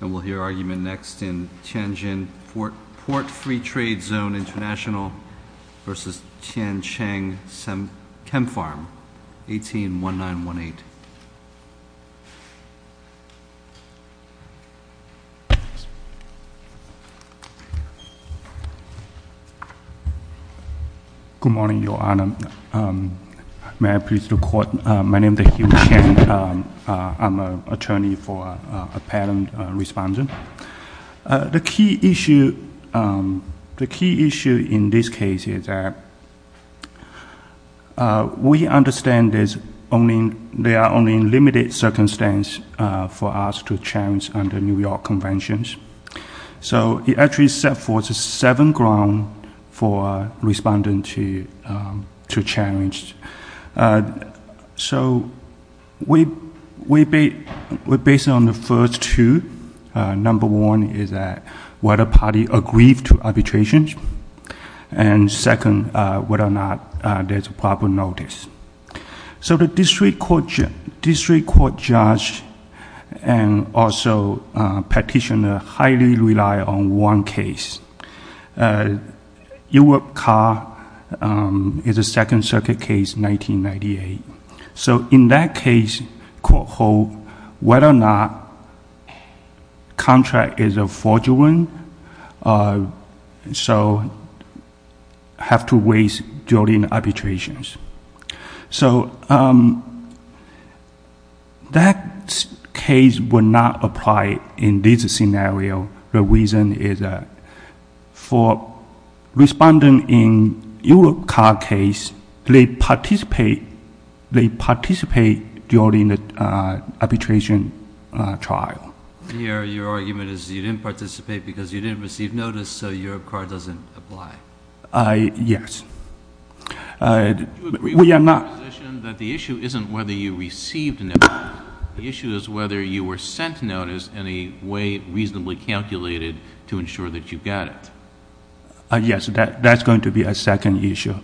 And we'll hear argument next in Tianjin Port Free Trade Zone International versus Tiancheng Chempharm, 18-1918. Good morning, Your Honor. May I please record? My name is Hugh Chang. I'm an attorney for a parent respondent. The key issue in this case is that we understand there are only limited circumstances for us to challenge under New York Conventions. So it actually sets forth seven grounds for respondents to challenge. So we base it on the first two. Number one is that whether parties agree to arbitrations. And second, whether or not there's a proper notice. So the district court judge and also petitioner highly rely on one case. Europe Car is a Second Circuit case, 1998. So in that case, whether or not contract is fraudulent, so have to wait during arbitrations. So that case will not apply in this scenario. The reason is that for respondent in Europe Car case, they participate during the arbitration trial. Your argument is you didn't participate because you didn't receive notice, so Europe Car doesn't apply. Yes. We are not. The issue isn't whether you received notice. The issue is whether you were sent notice in a way reasonably calculated to ensure that you got it. Yes, that's going to be a second issue.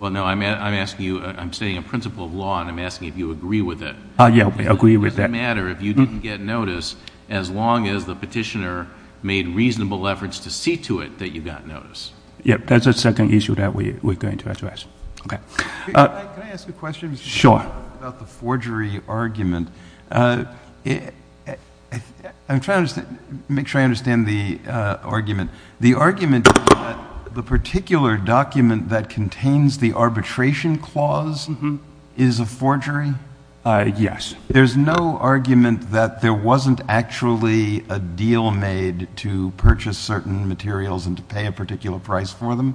Well, no, I'm asking you, I'm stating a principle of law, and I'm asking if you agree with it. Yeah, we agree with that. It doesn't matter if you didn't get notice as long as the petitioner made reasonable efforts to see to it that you got notice. Yeah, that's a second issue that we're going to address. Okay. Can I ask a question? Sure. About the forgery argument. I'm trying to make sure I understand the argument. The argument is that the particular document that contains the arbitration clause is a forgery? Yes. There's no argument that there wasn't actually a deal made to purchase certain materials and to pay a particular price for them?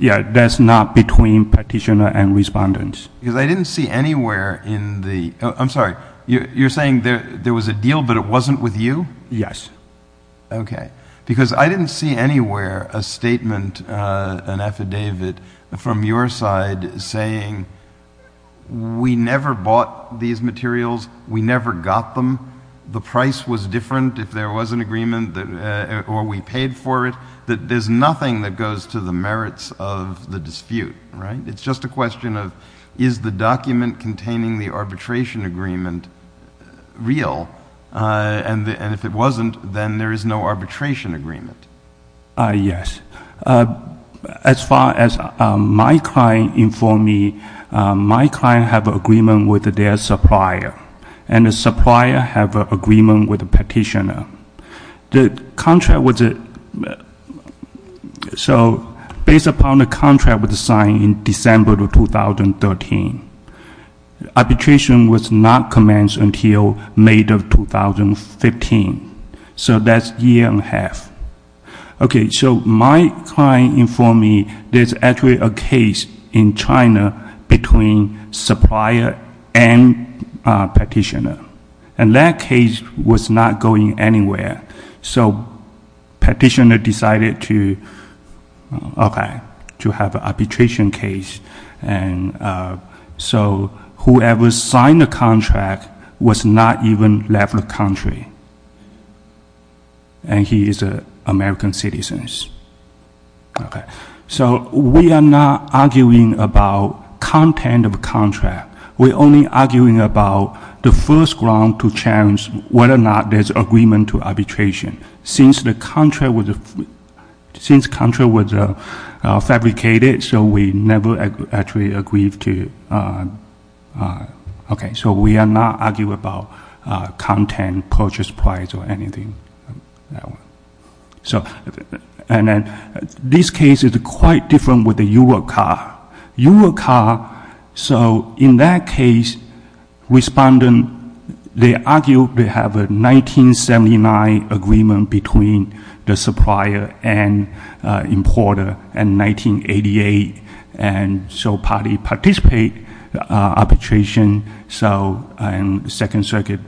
Yeah, that's not between petitioner and respondents. Because I didn't see anywhere in the – I'm sorry, you're saying there was a deal but it wasn't with you? Yes. Okay. Because I didn't see anywhere a statement, an affidavit, from your side saying we never bought these materials, we never got them, the price was different if there was an agreement or we paid for it, that there's nothing that goes to the merits of the dispute, right? It's just a question of is the document containing the arbitration agreement real? And if it wasn't, then there is no arbitration agreement. Yes. As far as my client informed me, my client have agreement with their supplier, and the supplier have agreement with the petitioner. The contract was – so based upon the contract was signed in December of 2013, arbitration was not commenced until May of 2015. So that's a year and a half. Okay, so my client informed me there's actually a case in China between supplier and petitioner. And that case was not going anywhere. So petitioner decided to, okay, to have arbitration case. And so whoever signed the contract was not even left the country. And he is an American citizen. Okay. So we are not arguing about content of the contract. We're only arguing about the first ground to challenge whether or not there's agreement to arbitration. Since the contract was – since contract was fabricated, so we never actually agreed to – okay. So we are not arguing about content, purchase price, or anything. So – and then this case is quite different with the Euro car. Euro car. So in that case, respondent, they argue they have a 1979 agreement between the supplier and importer in 1988. And so party participate arbitration. So in Second Circuit,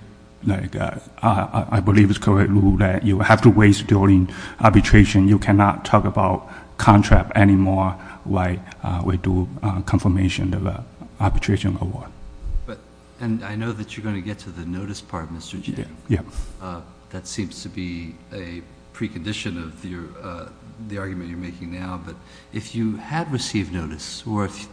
I believe it's correct rule that you have to wait during arbitration. You cannot talk about contract anymore while we do confirmation of arbitration award. But – and I know that you're going to get to the notice part, Mr. Cheng. Yes. That seems to be a precondition of your – the argument you're making now. But if you had received notice or if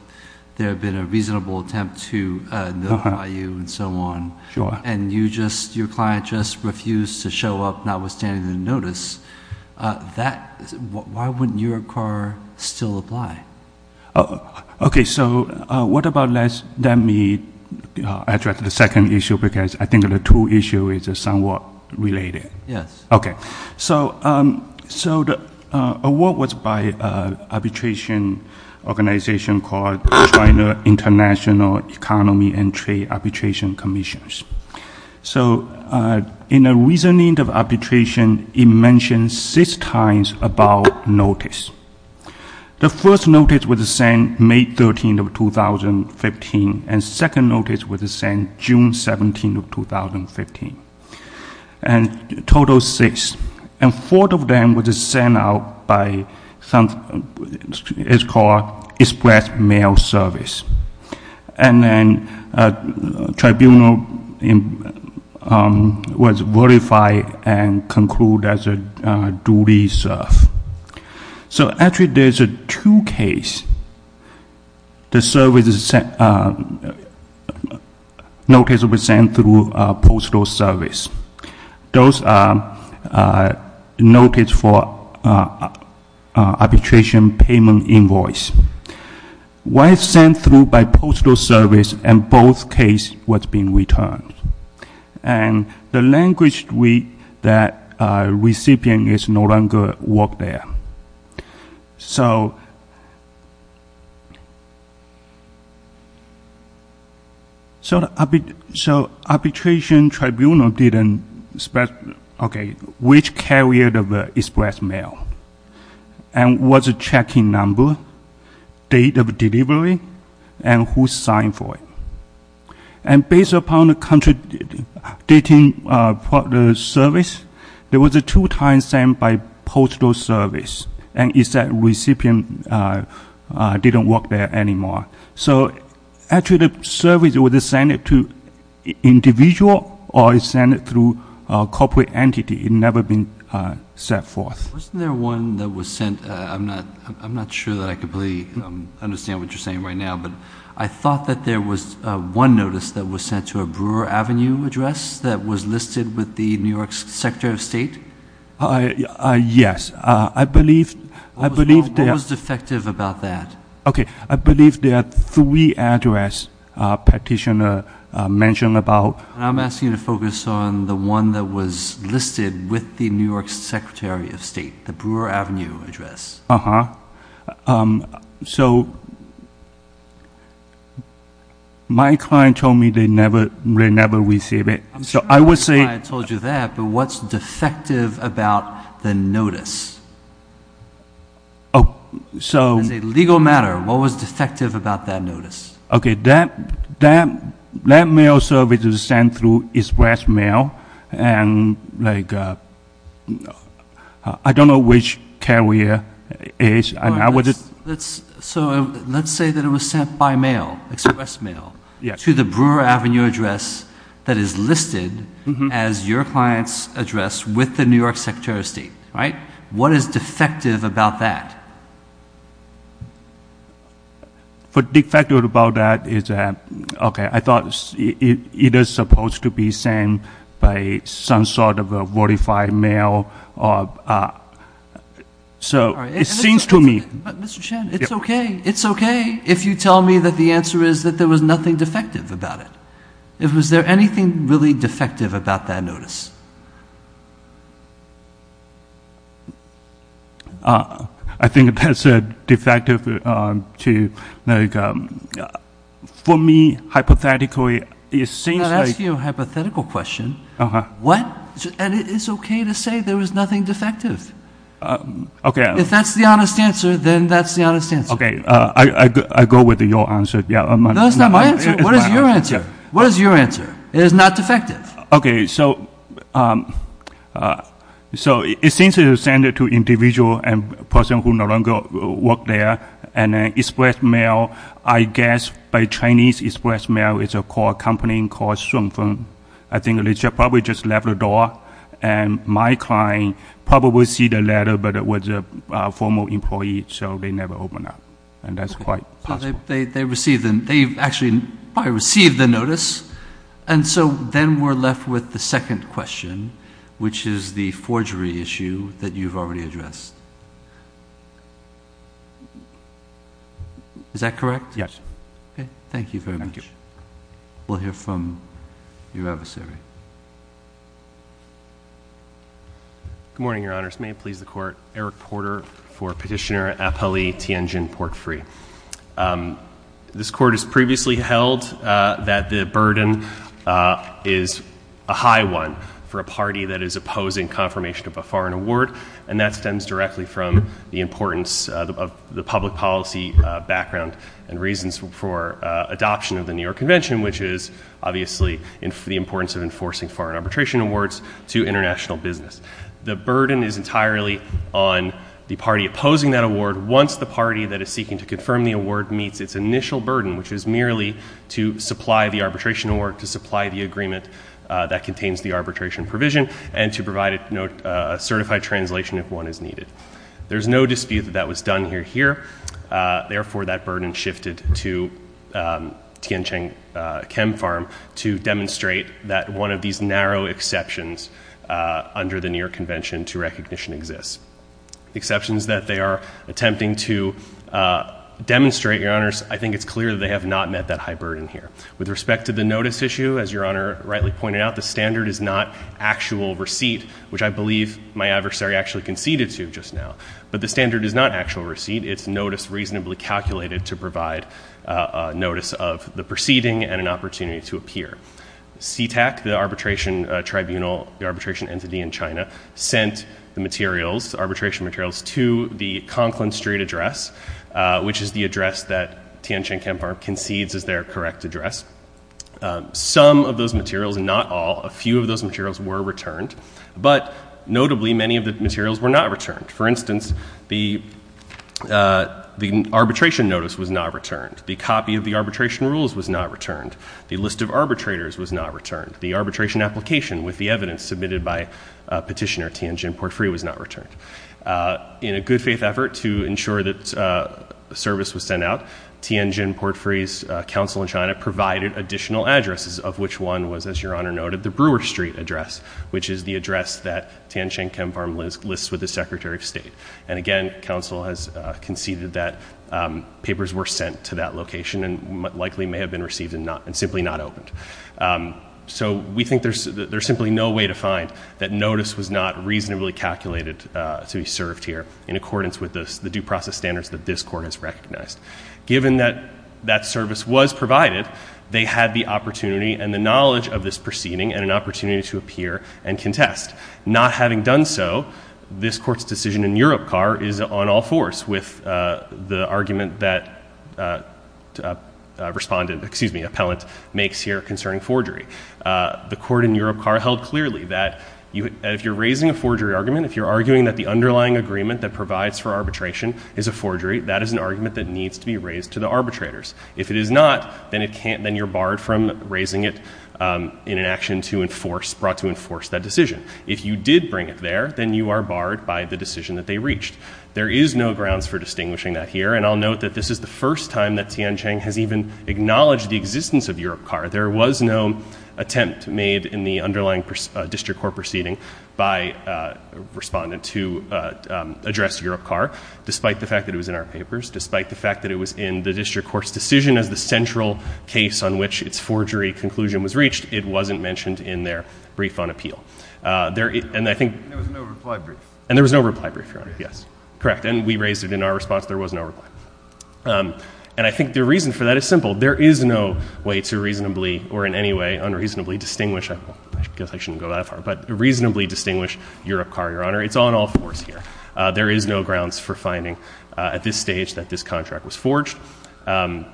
there had been a reasonable attempt to notify you and so on. Sure. And you just – your client just refused to show up notwithstanding the notice. That – why wouldn't Euro car still apply? Okay. So what about – let me address the second issue because I think the two issue is somewhat related. Yes. Okay. So the award was by arbitration organization called China International Economy and Trade Arbitration Commissions. So in a reasoning of arbitration, it mentions six times about notice. The first notice was sent May 13th of 2015. And second notice was sent June 17th of 2015. And total six. And four of them was sent out by – it's called express mail service. And then tribunal was verified and concluded as a duly served. So actually there's two case. The service is – notice was sent through postal service. Those are notice for arbitration payment invoice. One is sent through by postal service and both case was being returned. And the language that recipient is no longer work there. So arbitration tribunal didn't – okay. Which carrier of express mail? And what's the checking number, date of delivery, and who signed for it? And based upon the country dating service, there was two times sent by postal service. And it said recipient didn't work there anymore. So actually the service was sent to individual or sent through corporate entity. It never been sent forth. Wasn't there one that was sent – I'm not sure that I completely understand what you're saying right now. But I thought that there was one notice that was sent to a Brewer Avenue address that was listed with the New York Secretary of State. Yes. I believe – What was defective about that? Okay. I believe there are three address petitioner mentioned about. And I'm asking you to focus on the one that was listed with the New York Secretary of State, the Brewer Avenue address. Uh-huh. So my client told me they never receive it. I'm sure my client told you that, but what's defective about the notice? As a legal matter, what was defective about that notice? Okay. That mail service was sent through express mail, and I don't know which carrier it is. So let's say that it was sent by mail, express mail, to the Brewer Avenue address that is listed as your client's address with the New York Secretary of State, right? What is defective about that? What's defective about that is that, okay, I thought it was supposed to be sent by some sort of a verified mail. So it seems to me – Mr. Chen, it's okay. It's okay if you tell me that the answer is that there was nothing defective about it. I think that's defective to – for me, hypothetically, it seems like – I'm not asking you a hypothetical question. Uh-huh. What – and it's okay to say there was nothing defective. Okay. If that's the honest answer, then that's the honest answer. Okay. I go with your answer. No, that's not my answer. What is your answer? What is your answer? It is not defective. Okay. So it seems it was sent to an individual and a person who no longer worked there. And an express mail, I guess by Chinese express mail, it's a company called Shunfeng. I think they probably just left the door. And my client probably received a letter, but it was a former employee, so they never opened up. And that's quite possible. They received – they actually probably received the notice. And so then we're left with the second question, which is the forgery issue that you've already addressed. Is that correct? Yes. Okay. Thank you very much. Thank you. We'll hear from your adversary. Good morning, Your Honors. May it please the Court. Eric Porter for Petitioner Apeli Tianjin Portfrey. This Court has previously held that the burden is a high one for a party that is opposing confirmation of a foreign award. And that stems directly from the importance of the public policy background and reasons for adoption of the New York Convention, which is obviously the importance of enforcing foreign arbitration awards to international business. The burden is entirely on the party opposing that award once the party that is seeking to confirm the award meets its initial burden, which is merely to supply the arbitration award, to supply the agreement that contains the arbitration provision, and to provide a certified translation if one is needed. There's no dispute that that was done here. Therefore, that burden shifted to Tianjin Chem Farm to demonstrate that one of these narrow exceptions under the New York Convention to recognition exists. Exceptions that they are attempting to demonstrate, Your Honors, I think it's clear that they have not met that high burden here. With respect to the notice issue, as Your Honor rightly pointed out, the standard is not actual receipt, which I believe my adversary actually conceded to just now. But the standard is not actual receipt. It's notice reasonably calculated to provide notice of the proceeding and an opportunity to appear. CTAC, the arbitration tribunal, the arbitration entity in China, sent the materials, arbitration materials, to the Conklin Street address, which is the address that Tianjin Chem Farm concedes is their correct address. Some of those materials, not all, a few of those materials were returned, but notably many of the materials were not returned. For instance, the arbitration notice was not returned. The copy of the arbitration rules was not returned. The list of arbitrators was not returned. The arbitration application with the evidence submitted by Petitioner Tianjin Portfrey was not returned. In a good faith effort to ensure that service was sent out, Tianjin Portfrey's counsel in China provided additional addresses, of which one was, as Your Honor noted, the Brewer Street address, which is the address that Tianjin Chem Farm lists with the Secretary of State. And again, counsel has conceded that papers were sent to that location and likely may have been received and simply not opened. So we think there's simply no way to find that notice was not reasonably calculated to be served here in accordance with the due process standards that this Court has recognized. Given that that service was provided, they had the opportunity and the knowledge of this proceeding and an opportunity to appear and contest. Not having done so, this Court's decision in Uropkar is on all fours with the argument that appellant makes here concerning forgery. The Court in Uropkar held clearly that if you're raising a forgery argument, if you're arguing that the underlying agreement that provides for arbitration is a forgery, that is an argument that needs to be raised to the arbitrators. If it is not, then you're barred from raising it in an action brought to enforce that decision. If you did bring it there, then you are barred by the decision that they reached. There is no grounds for distinguishing that here. And I'll note that this is the first time that Tianjin has even acknowledged the existence of Uropkar. There was no attempt made in the underlying district court proceeding by a respondent to address Uropkar, despite the fact that it was in our papers, despite the fact that it was in the district court's decision as the central case on which its forgery conclusion was reached. It wasn't mentioned in their brief on appeal. And I think — And there was no reply brief. And there was no reply brief, Your Honor. Yes. Correct. And we raised it in our response. There was no reply. And I think the reason for that is simple. There is no way to reasonably or in any way unreasonably distinguish — I guess I shouldn't go that far — but reasonably distinguish Uropkar, Your Honor. It's on all fours here. There is no grounds for finding at this stage that this contract was forged. And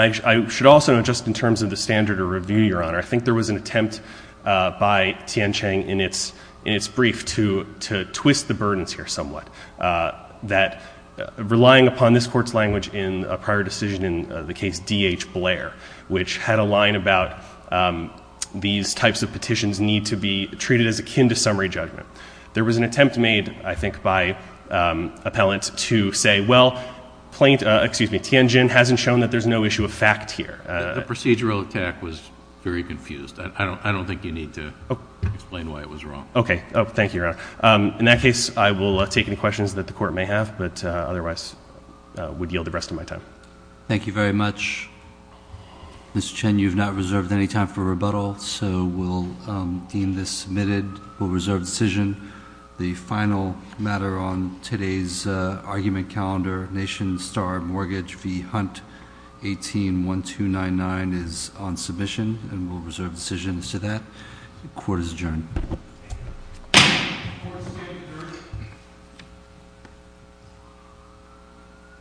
I should also note, just in terms of the standard of review, Your Honor, I think there was an attempt by Tianjin in its brief to twist the burdens here somewhat, that relying upon this court's language in a prior decision in the case D.H. Blair, which had a line about these types of petitions need to be treated as akin to summary judgment. There was an attempt made, I think, by appellants to say, well, Tianjin hasn't shown that there's no issue of fact here. The procedural attack was very confused. I don't think you need to explain why it was wrong. Okay. Thank you, Your Honor. In that case, I will take any questions that the court may have, but otherwise would yield the rest of my time. Thank you very much. Mr. Chen, you have not reserved any time for rebuttal, so we'll deem this submitted. We'll reserve the decision. The final matter on today's argument calendar, Nation Star Mortgage v. Hunt 18-1299, is on submission, and we'll reserve decisions to that. Court is adjourned. Thank you, Your Honor.